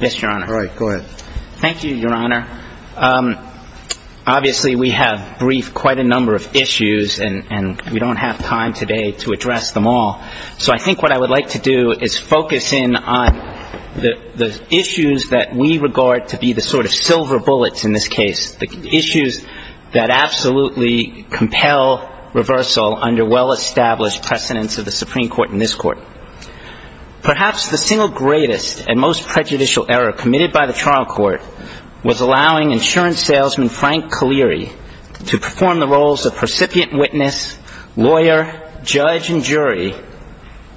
Thank you, Your Honor. Obviously, we have briefed quite a number of issues, and we don't have time today to address them all. So I think what I would like to do is focus in on the issues that we regard to be the sort of silver bullets in this case, the issues that absolutely compel reversal under well-established precedents of the Supreme Court and this Court. Perhaps the single greatest and most prejudicial error committed by the trial court was allowing insurance salesman Frank Kaleri to perform the roles of recipient witness, lawyer, judge and jury,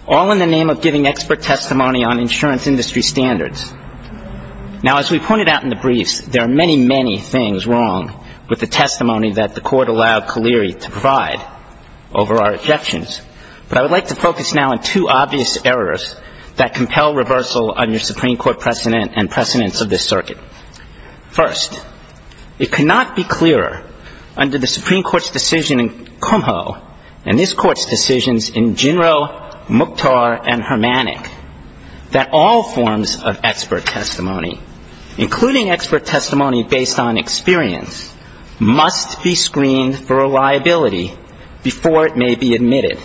all in the name of giving expert testimony on insurance industry standards. Now, as we pointed out in the briefs, there are many, many things wrong with the testimony that the court allowed Kaleri to provide over our objections. But I would like to focus now on two obvious errors that compel reversal under Supreme Court precedent and precedents of this circuit. First, it cannot be clearer under the Supreme Court's decision in Kumho and this Court's decisions in Ginro, Mukhtar and Hermannick that all forms of expert testimony, including expert testimony based on experience, must be screened for a liability before it may be admitted.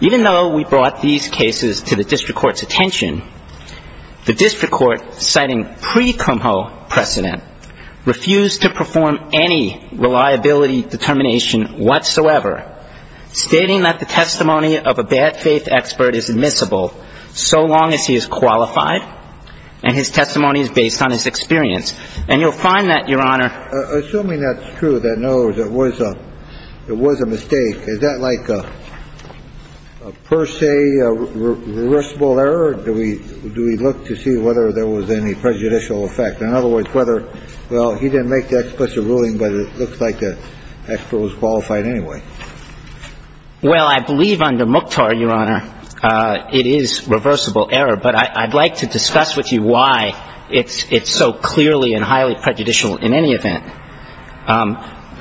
Even though we brought these cases to the district court's attention, the district court, citing pre-Kumho precedent, refused to perform any reliability determination whatsoever, stating that the testimony of a bad faith expert is admissible so long as he is qualified and his testimony is based on his experience. And you'll find that, Your Honor. Assuming that's true, that in other words it was a mistake, is that like a per se reversible error, or do we look to see whether there was any prejudicial effect? In other words, whether, well, he didn't make the explicit ruling, but it looks like the expert was qualified anyway. Well, I believe under Mukhtar, Your Honor, it is reversible error, but I'd like to discuss with you why it's so clearly and highly prejudicial in any event.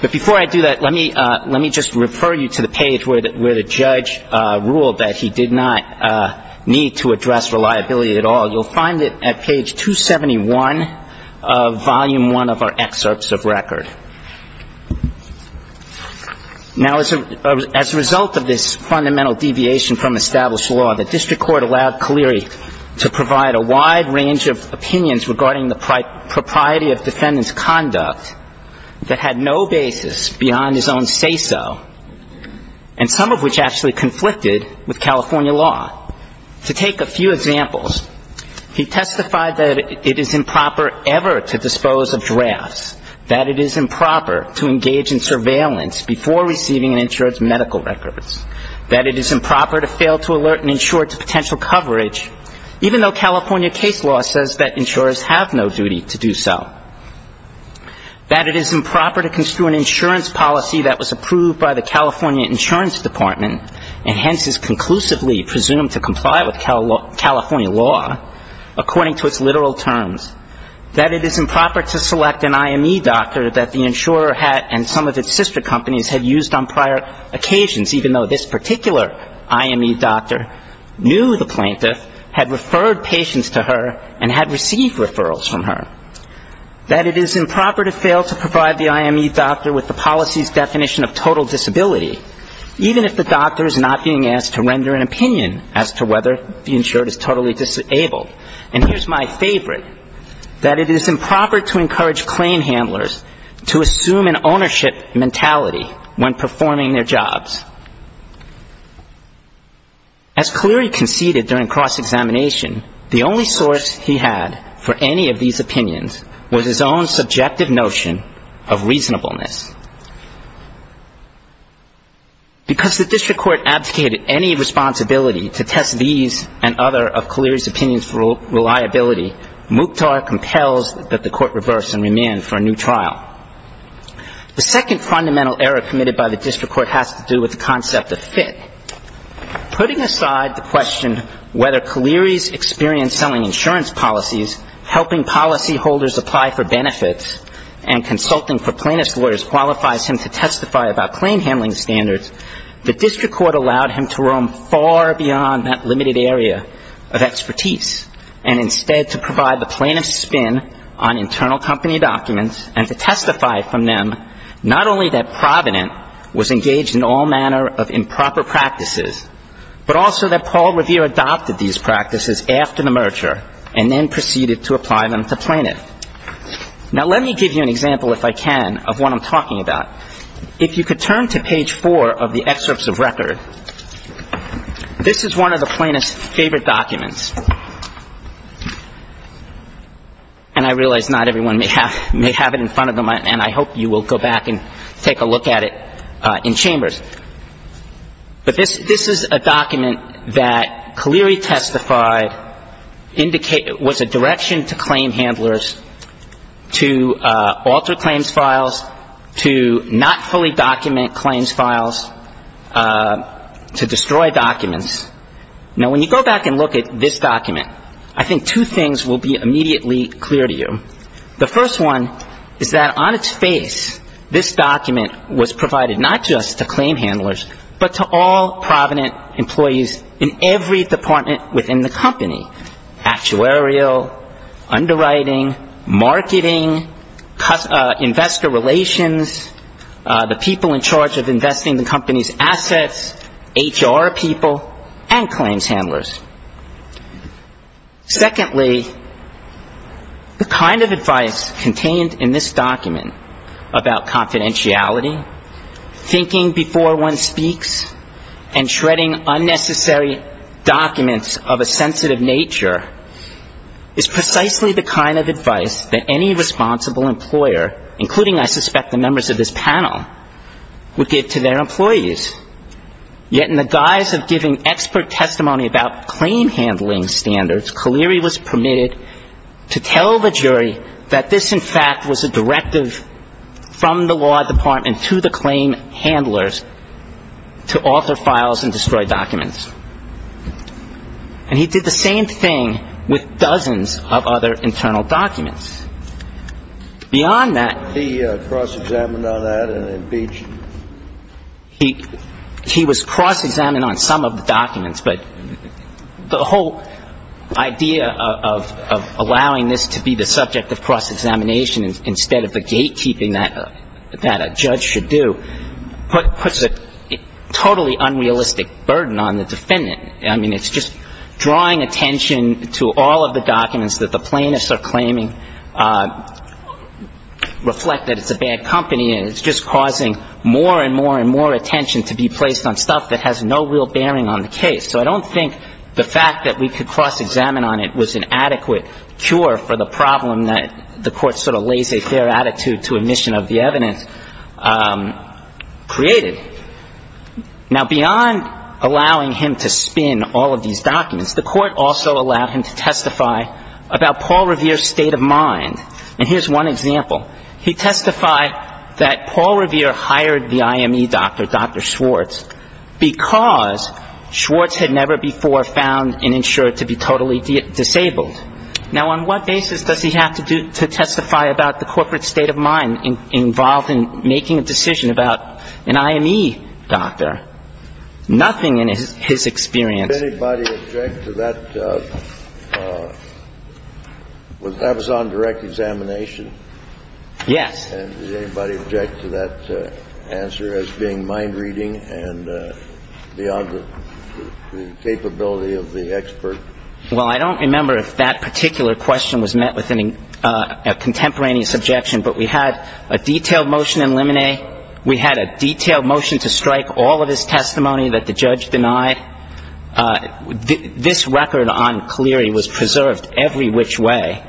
But before I do that, let me just refer you to the page where the judge ruled that he did not need to address reliability at all. You'll find it at page 271 of volume one of our excerpts of record. Now, as a result of this fundamental deviation from established law, the district court allowed Cleary to provide a wide range of opinions regarding the propriety of defendant's conduct that had no basis beyond his own say-so, and some of which actually conflicted with California law. To take a few examples, he testified that it is improper ever to dispose of drafts, that it is improper to engage in surveillance before receiving an insurer's medical records, that it is improper to fail to alert an insurer to potential coverage, even though California case law says that insurers have no duty to do so. That it is improper to construe an insurance policy that was approved by the California Insurance Department and hence is conclusively presumed to comply with California law, according to its literal terms. That it is improper to select an IME doctor that the insurer had and some of its sister companies had used on prior occasions, even though this particular IME doctor knew the plaintiff, had referred patients to her, and had received referrals from her. That it is improper to fail to provide the IME doctor with the policy's definition of total disability, even if the doctor is not being asked to render an opinion as to whether the insured is totally disabled. And here's my favorite, that it is improper to encourage claim handlers to assume an ownership mentality when performing their jobs. As Cleary conceded during cross-examination, the only source he had for any of these opinions was his own subjective notion of reasonableness. Because the district court abdicated any responsibility to test these and other of Cleary's opinions for reliability, Mukhtar compels that the court reverse and remand for a new trial. The second fundamental error committed by the district court has to do with the concept of fit. Putting aside the question whether Cleary's experience selling insurance policies, helping policyholders apply for benefits, and consulting for plaintiff's lawyers qualifies him to testify about claim handling standards, the district court allowed him to roam far beyond that limited area of expertise and instead to provide the plaintiff's spin on internal company documents and to testify about claim handling standards. He testified from them not only that Provident was engaged in all manner of improper practices, but also that Paul Revere adopted these practices after the merger and then proceeded to apply them to plaintiff. Now, let me give you an example, if I can, of what I'm talking about. If you could turn to page four of the excerpts of record, this is one of the plaintiff's favorite documents. And I realize not everyone may have it in front of them, and I hope you will go back and take a look at it in chambers. But this is a document that Cleary testified was a direction to claim handlers to alter claims files, to not fully document claims files, to destroy documents. Now, when you go back and look at this document, I think two things will be immediately clear to you. The first one is that on its face, this document was provided not just to claim handlers, but to all Provident employees in every department within the company, actuarial, underwriting, marketing, investor relations, the people in charge of investing the company's assets, HR people, and claims handlers. Secondly, the kind of advice contained in this document about confidentiality, thinking before one speaks, and shredding unnecessary documents of a sensitive nature is precisely the kind of advice that any responsible employer, including, I suspect, the members of this panel, would give to their employees. Yet in the guise of giving expert testimony about claim handling standards, Cleary was permitted to tell the jury that this, in fact, was a directive from the law department to the claim handlers to alter files and destroy documents. And he did the same thing with dozens of other internal documents. Beyond that, he was cross-examined on some of the documents, but the whole idea of allowing this to be the subject of cross-examination instead of the gatekeeping that a judge should do puts a totally unrealistic burden on the defendant. I mean, it's just drawing attention to all of the documents that the plaintiffs are claiming reflect that it's a bad company, and it's just causing more and more and more attention to be placed on stuff that has no real bearing on the case. So I don't think the fact that we could cross-examine on it was an adequate cure for the problem that the court sort of laissez-faire attitude to admission of the evidence created. Now, beyond allowing him to spin all of these documents, the court also allowed him to testify about Paul Revere's state of mind. And here's one example. He testified that Paul Revere hired the IME doctor, Dr. Schwartz, because Schwartz had never before found an insurer to be totally disabled. Now, on what basis does he have to testify about the corporate state of mind involved in making a decision about an IME doctor? Nothing in his experience. Did anybody object to that? Was that a direct examination? Yes. And did anybody object to that answer as being mind-reading and beyond the capability of the expert? Well, I don't remember if that particular question was met with a contemporaneous objection, but we had a detailed motion in limine. We had a detailed motion to strike all of his testimony that the judge denied. This record on Cleary was preserved every which way.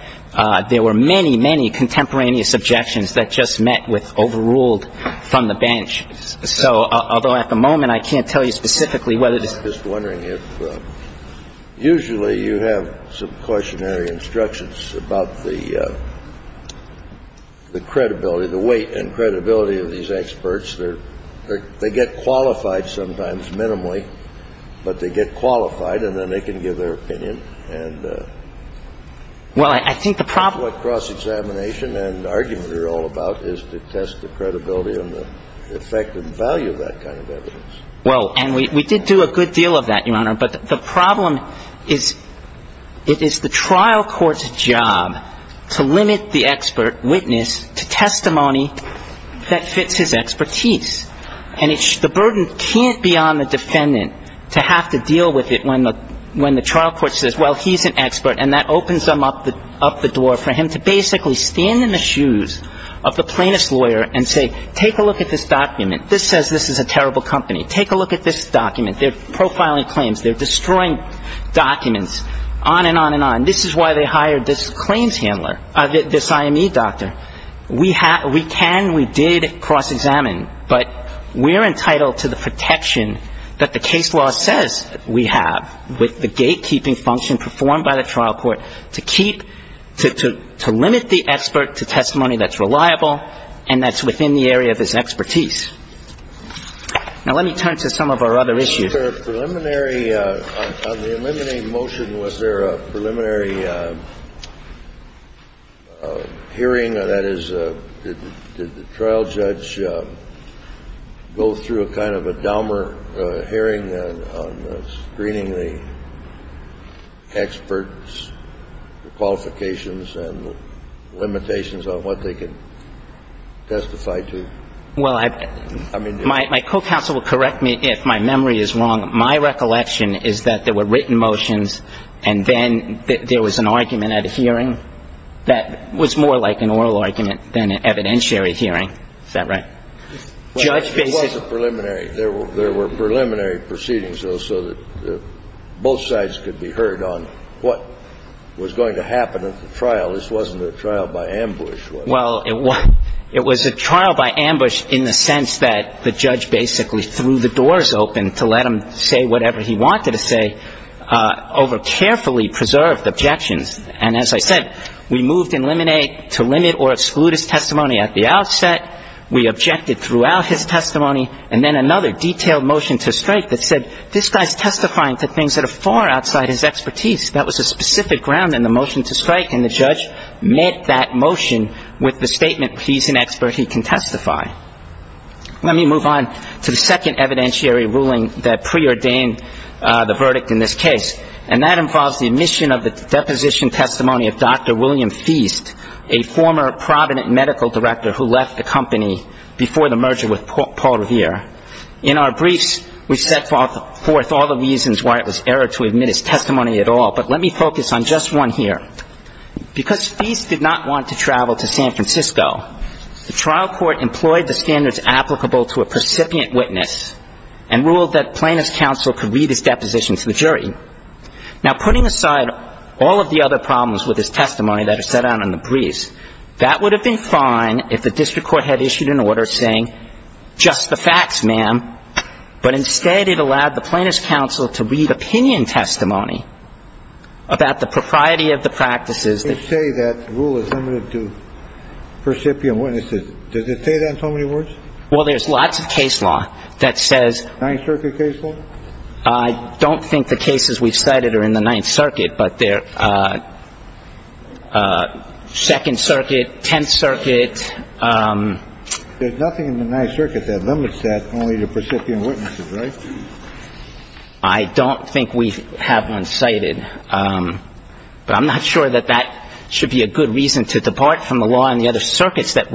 There were many, many contemporaneous objections that just met with overruled from the bench. So although at the moment I can't tell you specifically whether this is. I'm just wondering if usually you have some cautionary instructions about the credibility, the weight and credibility of these experts. They get qualified sometimes minimally, but they get qualified and then they can give their opinion. Well, I think the problem. What cross-examination and argument are all about is to test the credibility and the effective value of that kind of evidence. Well, and we did do a good deal of that, Your Honor. But the problem is it is the trial court's job to limit the expert witness to testimony that fits his expertise. And the burden can't be on the defendant to have to deal with it when the trial court says, well, he's an expert. And that opens them up the door for him to basically stand in the shoes of the plaintiff's lawyer and say, take a look at this document. This says this is a terrible company. Take a look at this document. They're profiling claims. They're destroying documents, on and on and on. This is why they hired this claims handler, this IME doctor. We can, we did cross-examine. But we're entitled to the protection that the case law says we have with the gatekeeping function performed by the trial court to keep to limit the expert to testimony that's reliable and that's within the area of his expertise. Now, let me turn to some of our other issues. Was there a preliminary, on the eliminating motion, was there a preliminary hearing? That is, did the trial judge go through a kind of a Dahmer hearing on screening the experts, the qualifications and limitations on what they can testify to? Well, I mean, my co-counsel will correct me if my memory is wrong. My recollection is that there were written motions and then there was an argument at a hearing that was more like an oral argument than an evidentiary hearing. Is that right? Well, there was a preliminary. There were preliminary proceedings, though, so that both sides could be heard on what was going to happen at the trial. This wasn't a trial by ambush, was it? Well, it was a trial by ambush in the sense that the judge basically threw the doors open to let him say whatever he wanted to say over carefully preserved objections. And as I said, we moved in limine to limit or exclude his testimony at the outset. We objected throughout his testimony. And then another detailed motion to strike that said, this guy's testifying to things that are far outside his expertise. That was a specific ground in the motion to strike, and the judge met that motion with the statement, he's an expert, he can testify. Let me move on to the second evidentiary ruling that preordained the verdict in this case, and that involves the admission of the deposition testimony of Dr. William Feast, a former Provident Medical Director who left the company before the merger with Paul Revere. In our briefs, we set forth all the reasons why it was error to admit his testimony at all, but let me focus on just one here. Because Feast did not want to travel to San Francisco, the trial court employed the standards applicable to a precipient witness and ruled that plaintiff's counsel could read his deposition to the jury. Now, putting aside all of the other problems with his testimony that are set out in the briefs, that would have been fine if the district court had issued an order saying, just the facts, ma'am, but instead it allowed the plaintiff's counsel to read opinion testimony about the propriety of the practices. They say that rule is limited to precipient witnesses. Does it say that in so many words? Well, there's lots of case law that says. Ninth Circuit case law? I don't think the cases we've cited are in the Ninth Circuit, but they're Second Circuit, Tenth Circuit. There's nothing in the Ninth Circuit that limits that only to precipient witnesses, right? I don't think we have one cited, but I'm not sure that that should be a good reason to depart from the law You had time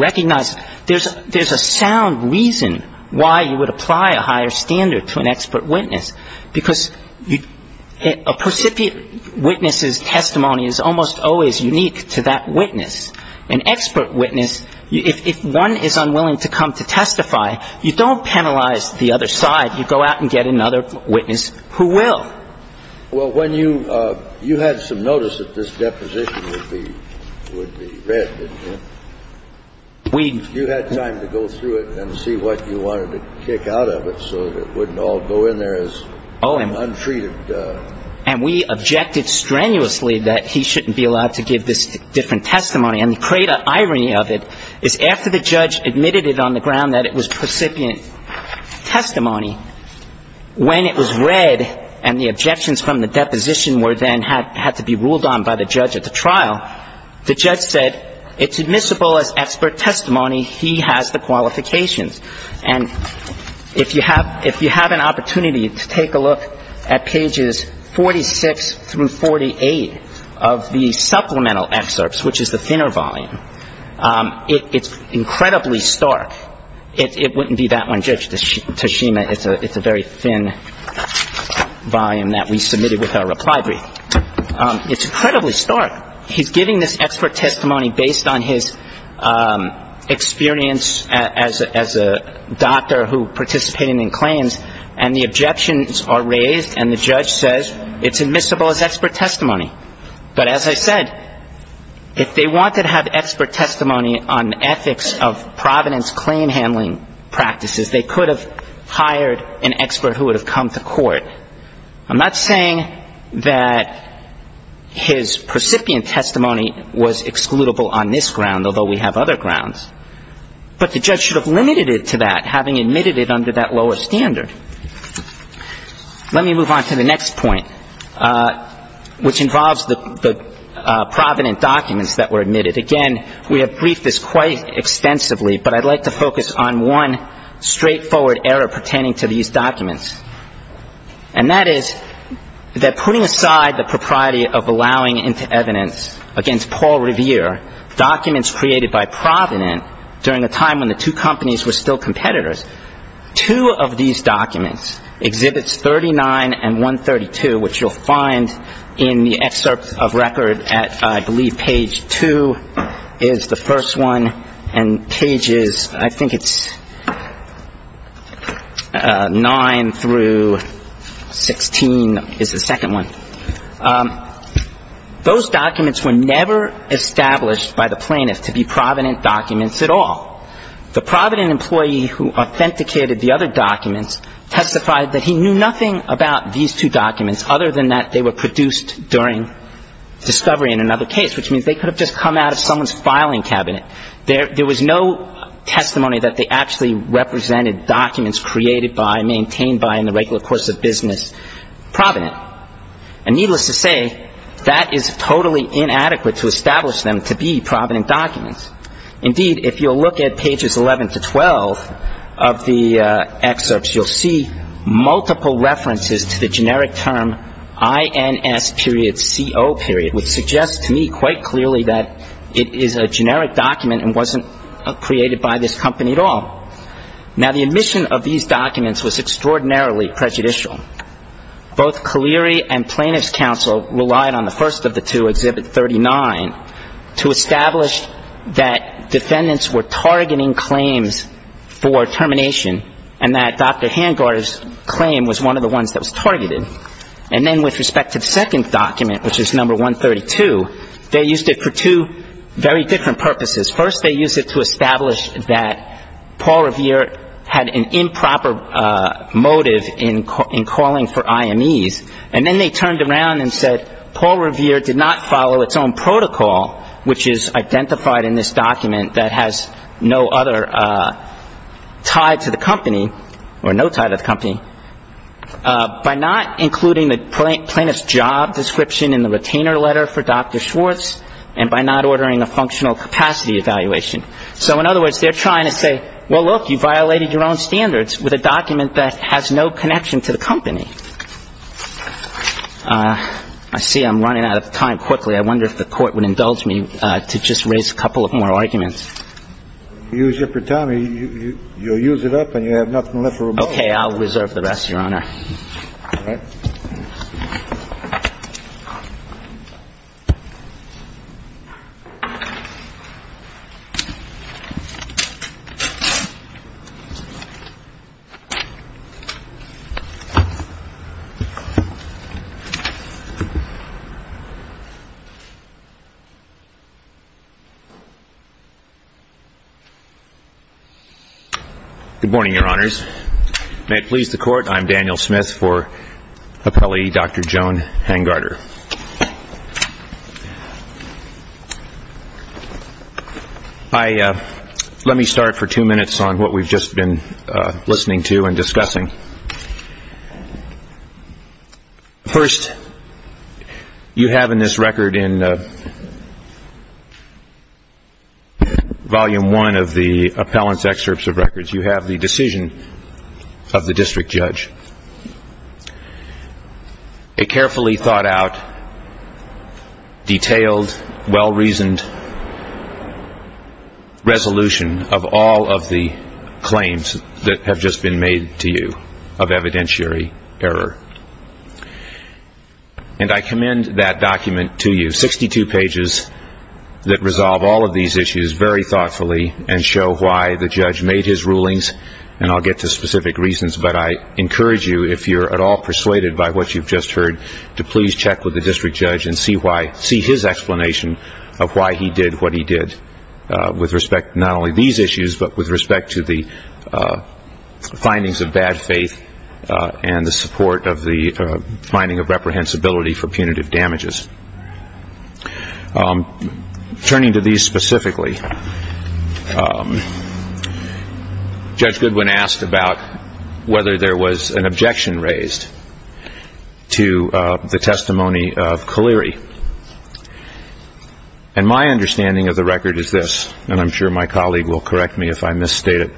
to go through it and see what you wanted to kick out of it so that it wouldn't all go in there as untreated. And we objected strenuously that he shouldn't be allowed to give this different testimony. And the great irony of it is after the judge admitted it on the ground that it was precipient testimony, when it was read and the objections from the deposition were then had to be ruled on by the judge at the trial, the judge said it's admissible as expert testimony. He has the qualifications. And if you have an opportunity to take a look at pages 46 through 48 of the supplemental excerpts, which is the thinner volume, it's incredibly stark. It wouldn't be that one, Judge Toshima. It's a very thin volume that we submitted with our reply brief. It's incredibly stark. He's giving this expert testimony based on his experience as a doctor who participated in claims, and the objections are raised and the judge says it's admissible as expert testimony. But as I said, if they wanted to have expert testimony on ethics of Providence claim handling practices, they could have hired an expert who would have come to court. I'm not saying that his precipient testimony was excludable on this ground, although we have other grounds. But the judge should have limited it to that, having admitted it under that lower standard. Let me move on to the next point, which involves the Providence documents that were admitted. Again, we have briefed this quite extensively, but I'd like to focus on one straightforward error pertaining to these documents. And that is that putting aside the propriety of allowing into evidence against Paul Revere documents created by Providence during a time when the two companies were still competitors, two of these documents, Exhibits 39 and 132, which you'll find in the excerpt of record at I believe page 2 is the first one, and pages I think it's 9 through 16 is the second one. Those documents were never established by the plaintiff to be Providence documents at all. The Providence employee who authenticated the other documents testified that he knew nothing about these two documents other than that they were produced during discovery in another case, which means they could have just come out of someone's filing cabinet. There was no testimony that they actually represented documents created by, maintained by in the regular course of business, Providence. And needless to say, that is totally inadequate to establish them to be Providence documents. Indeed, if you'll look at pages 11 to 12 of the excerpts, you'll see multiple references to the generic term INS period, CO period, which suggests to me quite clearly that it is a generic document and wasn't created by this company at all. Now, the admission of these documents was extraordinarily prejudicial. Both Kaleri and Plaintiff's Counsel relied on the first of the two, Exhibit 39, to establish that defendants were targeting claims for termination, and that Dr. Hangard's claim was one of the ones that was targeted. And then with respect to the second document, which is number 132, they used it for two very different purposes. First, they used it to establish that Paul Revere had an improper motive in calling for IMEs. And then they turned around and said Paul Revere did not follow its own protocol, which is identified in this document that has no other tie to the company, or no tie to the company, by not including the plaintiff's job description in the retainer letter for Dr. Schwartz, and by not ordering a functional capacity evaluation. So in other words, they're trying to say, well, look, you violated your own standards with a document that has no connection to the company. I see I'm running out of time quickly. I wonder if the Court would indulge me to just raise a couple of more arguments. You use it for time. You'll use it up and you have nothing left to remove. Okay. I'll reserve the rest, Your Honor. All right. Good morning, Your Honors. May it please the Court, I'm Daniel Smith for Appellee Dr. Joan Hangarter. Let me start for two minutes on what we've just been listening to and discussing. First, you have in this record in Volume 1 of the Appellant's Excerpts of Records, you have the decision of the district judge, a carefully thought out, detailed, well-reasoned resolution of all of the claims that have just been made to you of evidentiary error. And I commend that document to you, 62 pages that resolve all of these issues very thoughtfully and show why the judge made his rulings, and I'll get to specific reasons, but I encourage you, if you're at all persuaded by what you've just heard, to please check with the district judge and see his explanation of why he did what he did with respect to not only these issues, but with respect to the findings of bad faith and the support of the finding of reprehensibility for punitive damages. Turning to these specifically, Judge Goodwin asked about whether there was an objection raised to the testimony of Kaliri. And my understanding of the record is this, and I'm sure my colleague will correct me if I misstate it.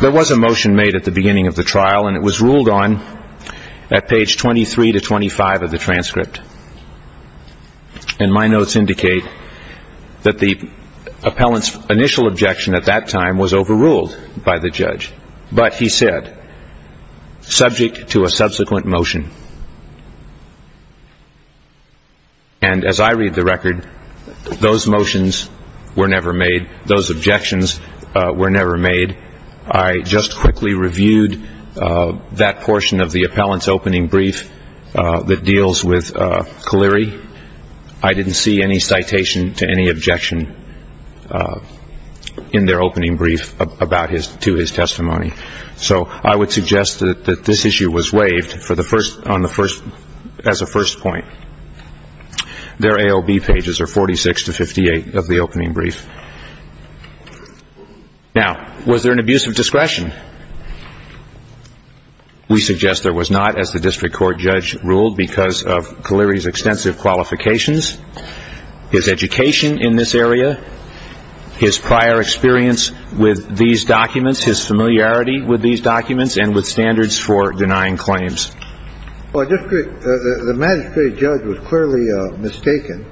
There was a motion made at the beginning of the trial, and it was ruled on at page 23 to 25 of the transcript. And my notes indicate that the appellant's initial objection at that time was overruled by the judge, but he said, subject to a subsequent motion. And as I read the record, those motions were never made, those objections were never made. I just quickly reviewed that portion of the appellant's opening brief that deals with Kaliri. I didn't see any citation to any objection in their opening brief to his testimony. So I would suggest that this issue was waived as a first point. Their AOB pages are 46 to 58 of the opening brief. Now, was there an abuse of discretion? We suggest there was not, as the district court judge ruled because of Kaliri's extensive qualifications, his education in this area, his prior experience with these documents, his familiarity with these documents and with standards for denying claims. Well, the magistrate judge was clearly mistaken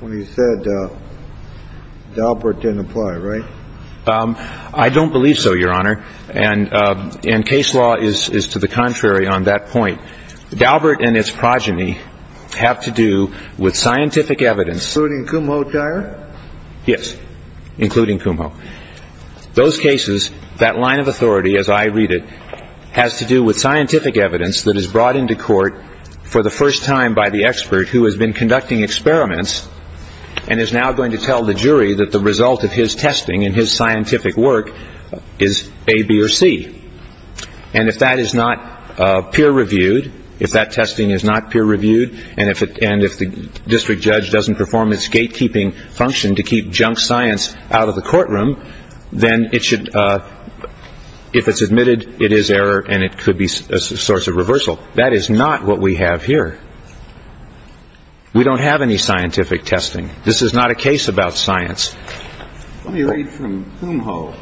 when he said Daubert didn't apply, right? I don't believe so, Your Honor. And case law is to the contrary on that point. Daubert and its progeny have to do with scientific evidence. Including Kumho Dyer? Yes, including Kumho. Those cases, that line of authority as I read it, has to do with scientific evidence that is brought into court for the first time by the expert who has been conducting experiments and is now going to tell the jury that the result of his testing and his scientific work is A, B, or C. And if that is not peer-reviewed, if that testing is not peer-reviewed, and if the district judge doesn't perform its gatekeeping function to keep junk science out of the courtroom, then if it's admitted, it is error and it could be a source of reversal. That is not what we have here. We don't have any scientific testing. This is not a case about science. Let me read from Kumho.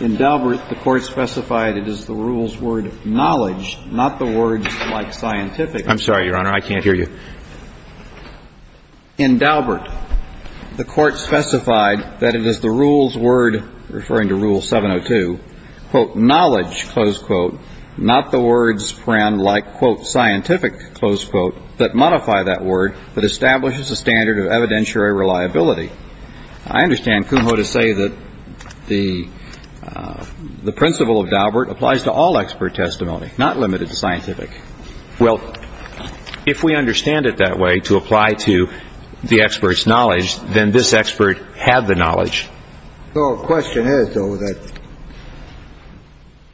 In Daubert, the court specified it is the rule's word, knowledge, not the words like scientific. I'm sorry, Your Honor, I can't hear you. In Daubert, the court specified that it is the rule's word, referring to Rule 702, quote, knowledge, close quote, not the words like, quote, scientific, close quote, that modify that word but establishes a standard of evidentiary reliability. I understand Kumho to say that the principle of Daubert applies to all expert testimony, not limited to scientific. Well, if we understand it that way, to apply to the expert's knowledge, then this expert had the knowledge. So the question is, though, that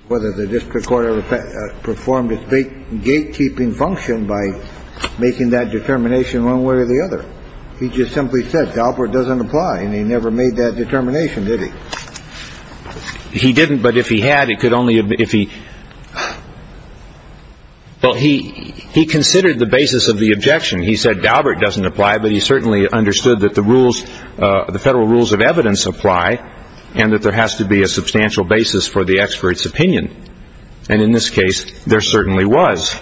whether the district court performed its gatekeeping function by making that determination one way or the other. He just simply said Daubert doesn't apply and he never made that determination, did he? He didn't. But if he had, it could only if he. Well, he he considered the basis of the objection. He said Daubert doesn't apply. But he certainly understood that the rules, the federal rules of evidence apply and that there has to be a substantial basis for the expert's opinion. And in this case, there certainly was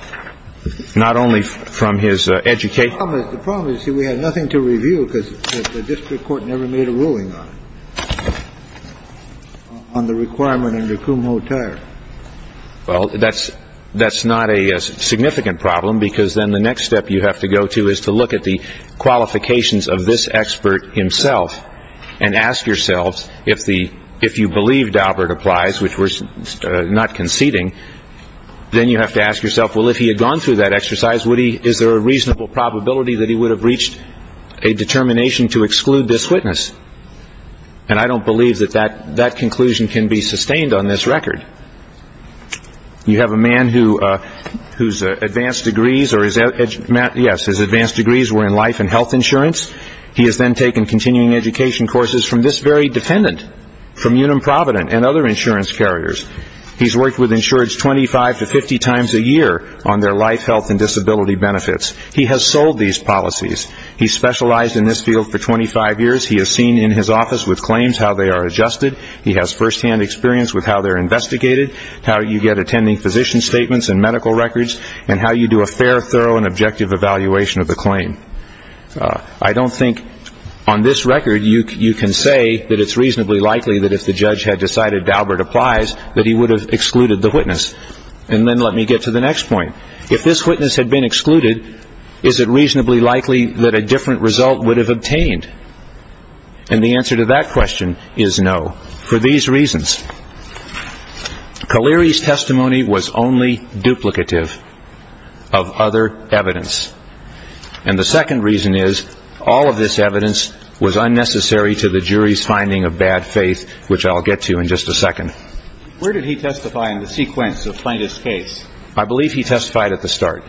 not only from his education. We had nothing to review because the district court never made a ruling on. On the requirement under Kumho tire. Well, that's that's not a significant problem, because then the next step you have to go to is to look at the qualifications of this expert himself and ask yourselves if the if you believe Daubert applies, which was not conceding, then you have to ask yourself, well, if he had gone through that exercise, would he is there a reasonable probability that he would have reached a determination to exclude this witness? And I don't believe that that that conclusion can be sustained on this record. You have a man who whose advanced degrees or is that yes, his advanced degrees were in life and health insurance. He has then taken continuing education courses from this very defendant from Unum Providence and other insurance carriers. He's worked with insureds 25 to 50 times a year on their life, health and disability benefits. He has sold these policies. He specialized in this field for 25 years. He has seen in his office with claims how they are adjusted. He has firsthand experience with how they're investigated, how you get attending physician statements and medical records, and how you do a fair, thorough and objective evaluation of the claim. I don't think on this record you can say that it's reasonably likely that if the judge had decided Daubert applies, that he would have excluded the witness. And then let me get to the next point. If this witness had been excluded, is it reasonably likely that a different result would have obtained? And the answer to that question is no. For these reasons, Kaleri's testimony was only duplicative of other evidence. And the second reason is all of this evidence was unnecessary to the jury's finding of bad faith, which I'll get to in just a second. Where did he testify in the sequence of plaintiff's case? I believe he testified at the start.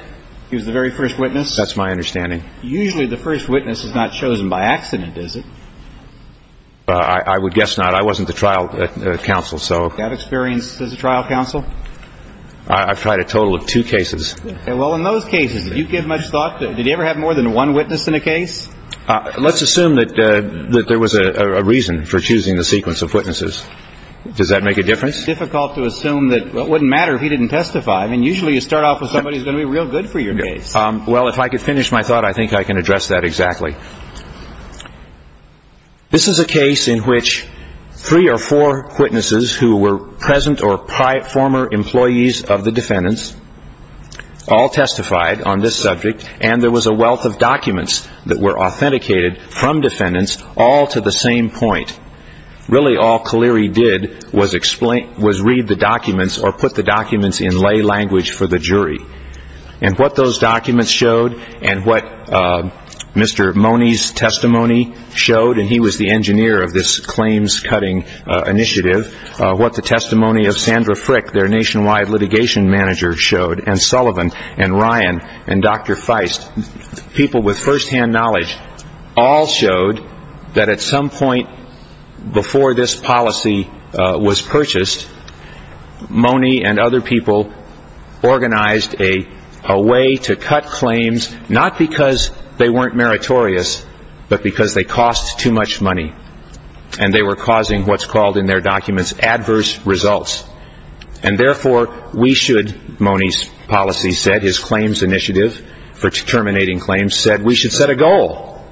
He was the very first witness? That's my understanding. Usually the first witness is not chosen by accident, is it? I would guess not. I wasn't the trial counsel, so. That experience as a trial counsel? I've tried a total of two cases. Well, in those cases, did you give much thought? Did you ever have more than one witness in a case? Let's assume that there was a reason for choosing the sequence of witnesses. Does that make a difference? It's difficult to assume that it wouldn't matter if he didn't testify. I mean, usually you start off with somebody who's going to be real good for your case. Well, if I could finish my thought, I think I can address that exactly. This is a case in which three or four witnesses who were present or former employees of the defendants all testified on this subject, and there was a wealth of documents that were authenticated from defendants all to the same point. Really, all Kaliri did was read the documents or put the documents in lay language for the jury. And what those documents showed and what Mr. Mone's testimony showed, and he was the engineer of this claims-cutting initiative, what the testimony of Sandra Frick, their nationwide litigation manager, showed, and Sullivan and Ryan and Dr. Feist, people with firsthand knowledge, all showed that at some point before this policy was purchased, Mone and other people organized a way to cut claims not because they weren't meritorious, but because they cost too much money and they were causing what's called in their documents adverse results. And therefore, we should, Mone's policy said, his claims initiative for terminating claims said, we should set a goal.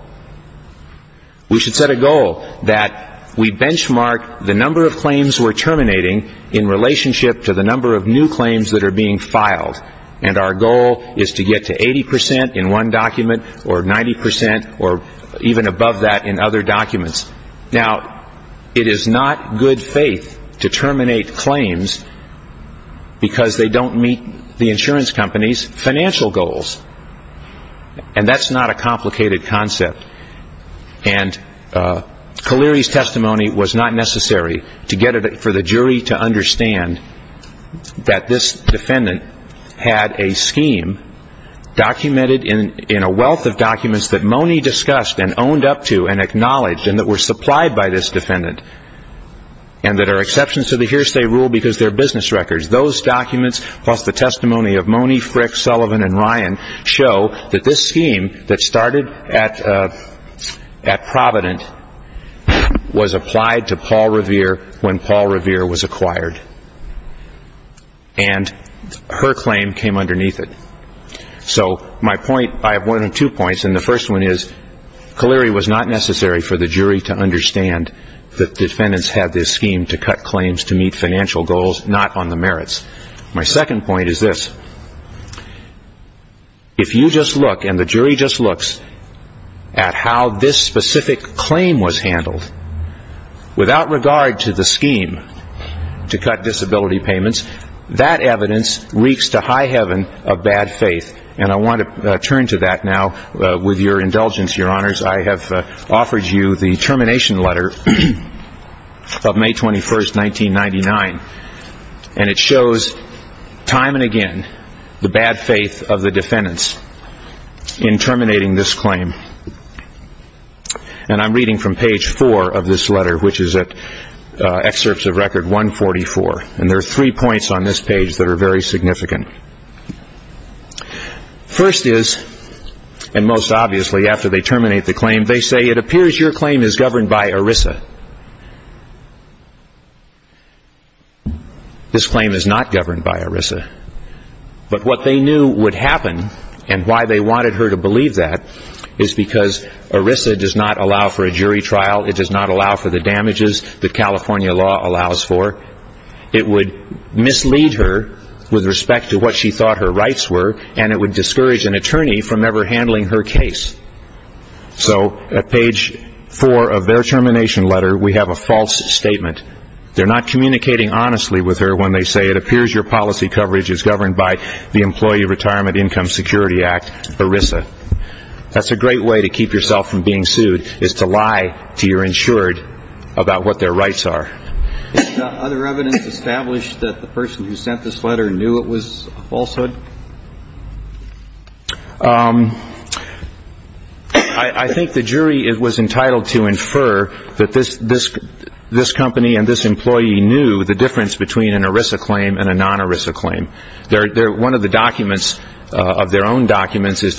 We should set a goal that we benchmark the number of claims we're terminating in relationship to the number of new claims that are being filed. And our goal is to get to 80 percent in one document or 90 percent or even above that in other documents. Now, it is not good faith to terminate claims because they don't meet the insurance company's financial goals. And that's not a complicated concept. And Kaleri's testimony was not necessary to get for the jury to understand that this defendant had a scheme documented in a wealth of documents that Mone discussed and owned up to and acknowledged and that were supplied by this defendant and that are exceptions to the hearsay rule because they're business records. Those documents plus the testimony of Mone, Frick, Sullivan, and Ryan show that this scheme that started at Provident was applied to Paul Revere when Paul Revere was acquired. And her claim came underneath it. So my point, I have one or two points, and the first one is Kaleri was not necessary for the jury to understand that defendants had this scheme to cut claims to meet financial goals, not on the merits. My second point is this. If you just look and the jury just looks at how this specific claim was handled, without regard to the scheme to cut disability payments, that evidence reeks to high heaven of bad faith. And I want to turn to that now with your indulgence, Your Honors. I have offered you the termination letter of May 21st, 1999, and it shows time and again the bad faith of the defendants in terminating this claim. And I'm reading from page four of this letter, which is at excerpts of record 144, and there are three points on this page that are very significant. First is, and most obviously after they terminate the claim, they say, it appears your claim is governed by ERISA. This claim is not governed by ERISA. But what they knew would happen, and why they wanted her to believe that, is because ERISA does not allow for a jury trial. It does not allow for the damages that California law allows for. It would mislead her with respect to what she thought her rights were, and it would discourage an attorney from ever handling her case. So at page four of their termination letter, we have a false statement. They're not communicating honestly with her when they say, it appears your policy coverage is governed by the Employee Retirement Income Security Act, ERISA. That's a great way to keep yourself from being sued, is to lie to your insured about what their rights are. Is there other evidence established that the person who sent this letter knew it was a falsehood? I think the jury was entitled to infer that this company and this employee knew the difference between an ERISA claim and a non-ERISA claim. One of the documents of their own documents is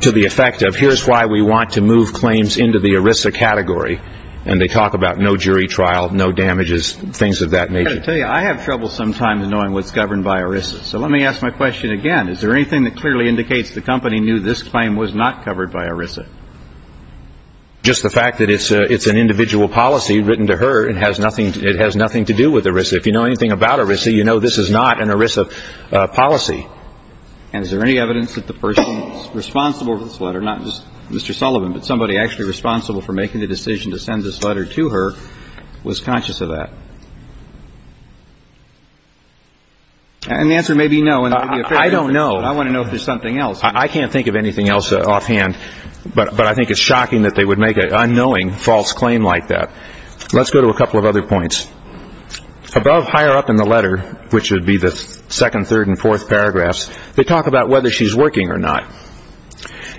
to the effect of, here's why we want to move claims into the ERISA category, and they talk about no jury trial, no damages, things of that nature. I've got to tell you, I have trouble sometimes knowing what's governed by ERISA. So let me ask my question again. Is there anything that clearly indicates the company knew this claim was not covered by ERISA? Just the fact that it's an individual policy written to her, it has nothing to do with ERISA. If you know anything about ERISA, you know this is not an ERISA policy. And is there any evidence that the person responsible for this letter, not just Mr. Sullivan, but somebody actually responsible for making the decision to send this letter to her was conscious of that? And the answer may be no. I don't know. I want to know if there's something else. I can't think of anything else offhand, but I think it's shocking that they would make an unknowing false claim like that. Let's go to a couple of other points. Above higher up in the letter, which would be the second, third, and fourth paragraphs, they talk about whether she's working or not.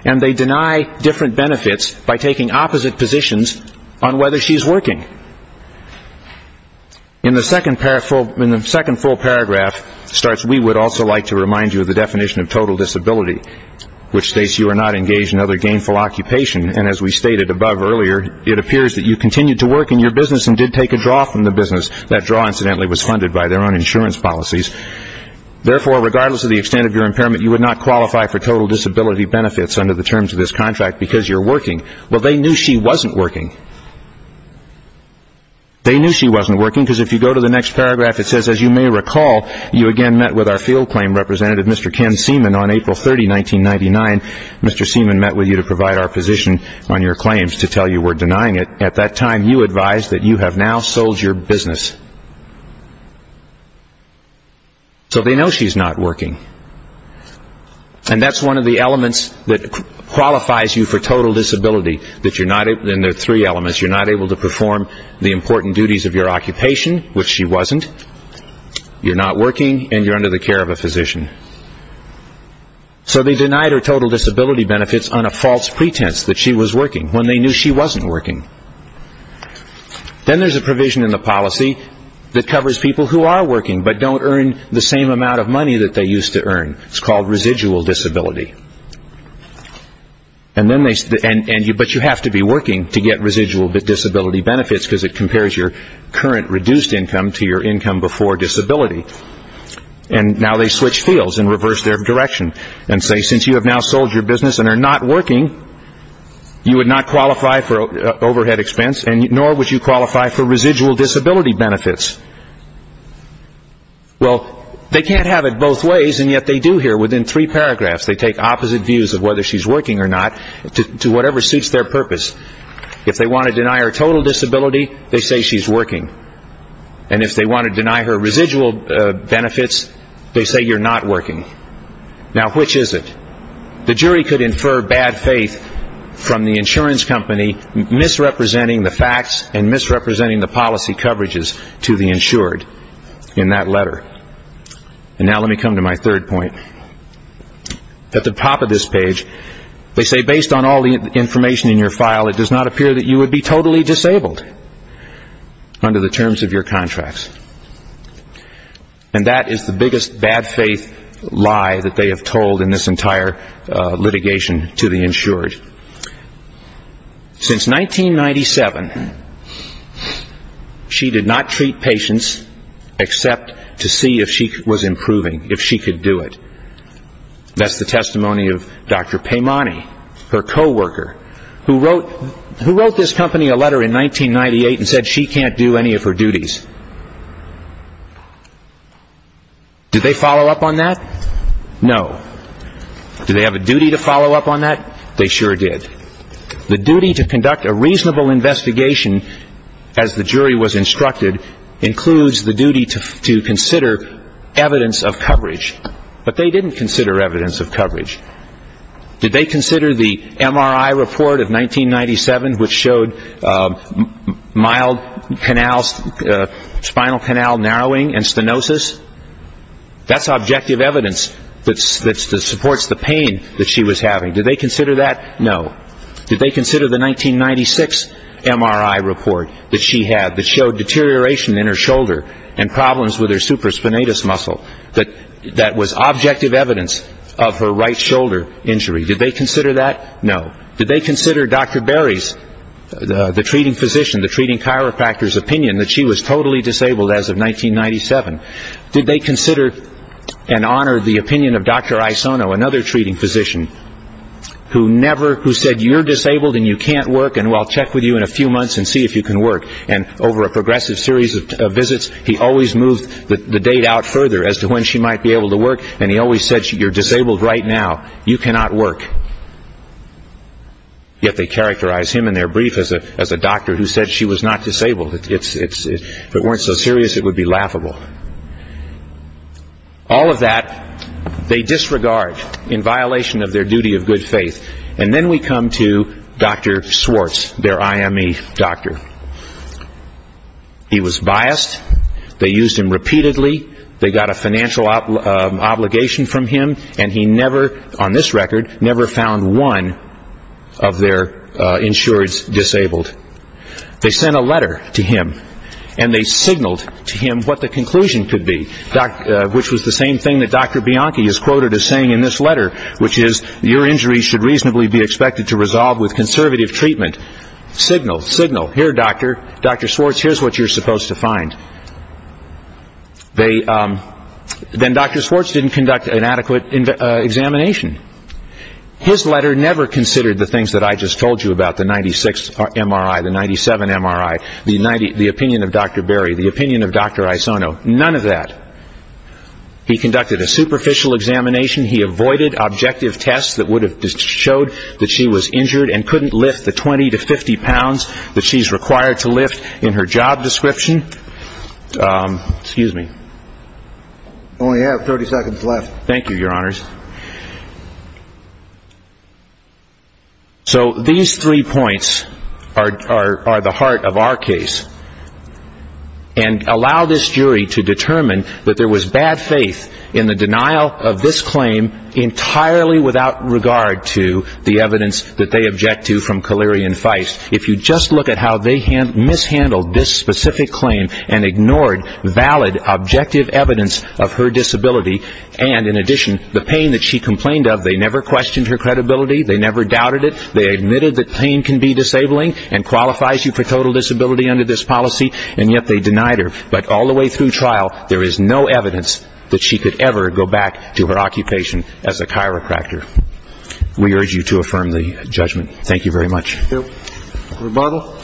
And they deny different benefits by taking opposite positions on whether she's working. In the second full paragraph, it starts, We would also like to remind you of the definition of total disability, which states you are not engaged in other gainful occupation. And as we stated above earlier, it appears that you continued to work in your business and did take a draw from the business. That draw, incidentally, was funded by their own insurance policies. Therefore, regardless of the extent of your impairment, you would not qualify for total disability benefits under the terms of this contract because you're working. Well, they knew she wasn't working. They knew she wasn't working because if you go to the next paragraph, it says, As you may recall, you again met with our field claim representative, Mr. Ken Seaman, on April 30, 1999. Mr. Seaman met with you to provide our position on your claims to tell you we're denying it. At that time, you advised that you have now sold your business. So they know she's not working. And that's one of the elements that qualifies you for total disability. There are three elements. You're not able to perform the important duties of your occupation, which she wasn't. You're not working. And you're under the care of a physician. So they denied her total disability benefits on a false pretense that she was working when they knew she wasn't working. Then there's a provision in the policy that covers people who are working but don't earn the same amount of money that they used to earn. It's called residual disability. But you have to be working to get residual disability benefits because it compares your current reduced income to your income before disability. And now they switch fields and reverse their direction and say, since you have now sold your business and are not working, you would not qualify for overhead expense, nor would you qualify for residual disability benefits. Well, they can't have it both ways, and yet they do here within three paragraphs. They take opposite views of whether she's working or not to whatever suits their purpose. If they want to deny her total disability, they say she's working. And if they want to deny her residual benefits, they say you're not working. Now, which is it? The jury could infer bad faith from the insurance company misrepresenting the facts and misrepresenting the policy coverages to the insured in that letter. And now let me come to my third point. At the top of this page, they say, based on all the information in your file, it does not appear that you would be totally disabled under the terms of your contracts. And that is the biggest bad faith lie that they have told in this entire litigation to the insured. Since 1997, she did not treat patients except to see if she was improving, if she could do it. That's the testimony of Dr. Paimani, her coworker, who wrote this company a letter in 1998 and said she can't do any of her duties. Did they follow up on that? No. Did they have a duty to follow up on that? They sure did. The duty to conduct a reasonable investigation, as the jury was instructed, includes the duty to consider evidence of coverage. But they didn't consider evidence of coverage. Did they consider the MRI report of 1997, which showed mild spinal canal narrowing and stenosis? That's objective evidence that supports the pain that she was having. Did they consider that? No. Did they consider the 1996 MRI report that she had that showed deterioration in her shoulder and problems with her supraspinatus muscle? That was objective evidence of her right shoulder injury. Did they consider that? No. Did they consider Dr. Berry's, the treating physician, the treating chiropractor's opinion that she was totally disabled as of 1997? Did they consider and honor the opinion of Dr. Isono, another treating physician, who said you're disabled and you can't work and I'll check with you in a few months and see if you can work. And over a progressive series of visits, he always moved the date out further as to when she might be able to work, and he always said you're disabled right now. You cannot work. Yet they characterized him in their brief as a doctor who said she was not disabled. If it weren't so serious, it would be laughable. All of that they disregard in violation of their duty of good faith. And then we come to Dr. Swartz, their IME doctor. He was biased. They used him repeatedly. They got a financial obligation from him, and he never, on this record, never found one of their insureds disabled. They sent a letter to him, and they signaled to him what the conclusion could be, which was the same thing that Dr. Bianchi is quoted as saying in this letter, which is your injury should reasonably be expected to resolve with conservative treatment. Signal, signal. Here, doctor. Dr. Swartz, here's what you're supposed to find. Then Dr. Swartz didn't conduct an adequate examination. His letter never considered the things that I just told you about, the 96 MRI, the 97 MRI, the opinion of Dr. Berry, the opinion of Dr. Isono, none of that. He conducted a superficial examination. He avoided objective tests that would have showed that she was injured and couldn't lift the 20 to 50 pounds that she's required to lift in her job description. Excuse me. I only have 30 seconds left. Thank you, Your Honors. So these three points are the heart of our case. And allow this jury to determine that there was bad faith in the denial of this claim entirely without regard to the evidence that they object to from Kaleri and Feist. If you just look at how they mishandled this specific claim and ignored valid objective evidence of her disability, and in addition the pain that she complained of, they never questioned her credibility, they never doubted it, they admitted that pain can be disabling and qualifies you for total disability under this policy, and yet they denied her. But all the way through trial, there is no evidence that she could ever go back to her occupation as a chiropractor. We urge you to affirm the judgment. Thank you very much. Rebuttal.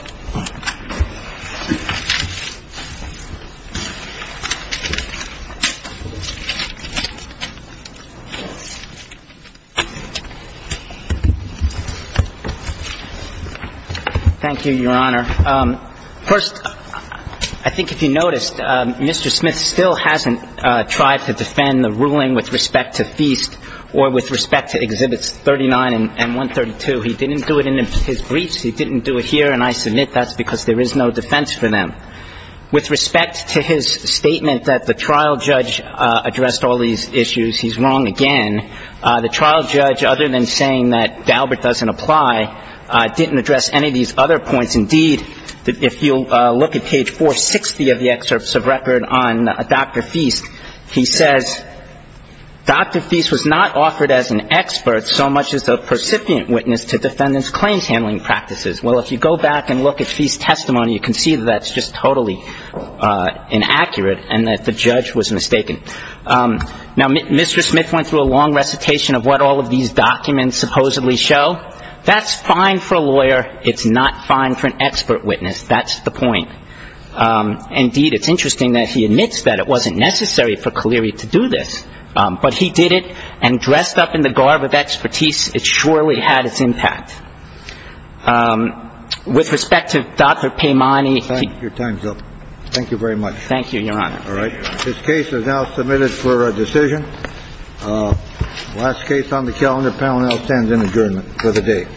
Thank you, Your Honor. First, I think if you noticed, Mr. Smith still hasn't tried to defend the ruling with respect to Feist or with respect to Exhibits 39 and 132. He didn't do it in his briefs, he didn't do it here, and I submit that's because there is no defense for them. With respect to his statement that the trial judge addressed all these issues, he's wrong again. The trial judge, other than saying that Daubert doesn't apply, didn't address any of these other points. Indeed, if you look at page 460 of the excerpts of record on Dr. Feist, he says, Dr. Feist was not offered as an expert so much as a percipient witness to defendant's claims handling practices. Well, if you go back and look at Feist's testimony, you can see that that's just totally inaccurate and that the judge was mistaken. Now, Mr. Smith went through a long recitation of what all of these documents supposedly show. That's fine for a lawyer. It's not fine for an expert witness. That's the point. Indeed, it's interesting that he admits that it wasn't necessary for Kaliri to do this, but he did it and dressed up in the garb of expertise. It surely had its impact. With respect to Dr. Paimani. Your time's up. Thank you very much. Thank you, Your Honor. All right. This case is now submitted for a decision. Last case on the calendar. The panel now stands in adjournment for the day. Thank you.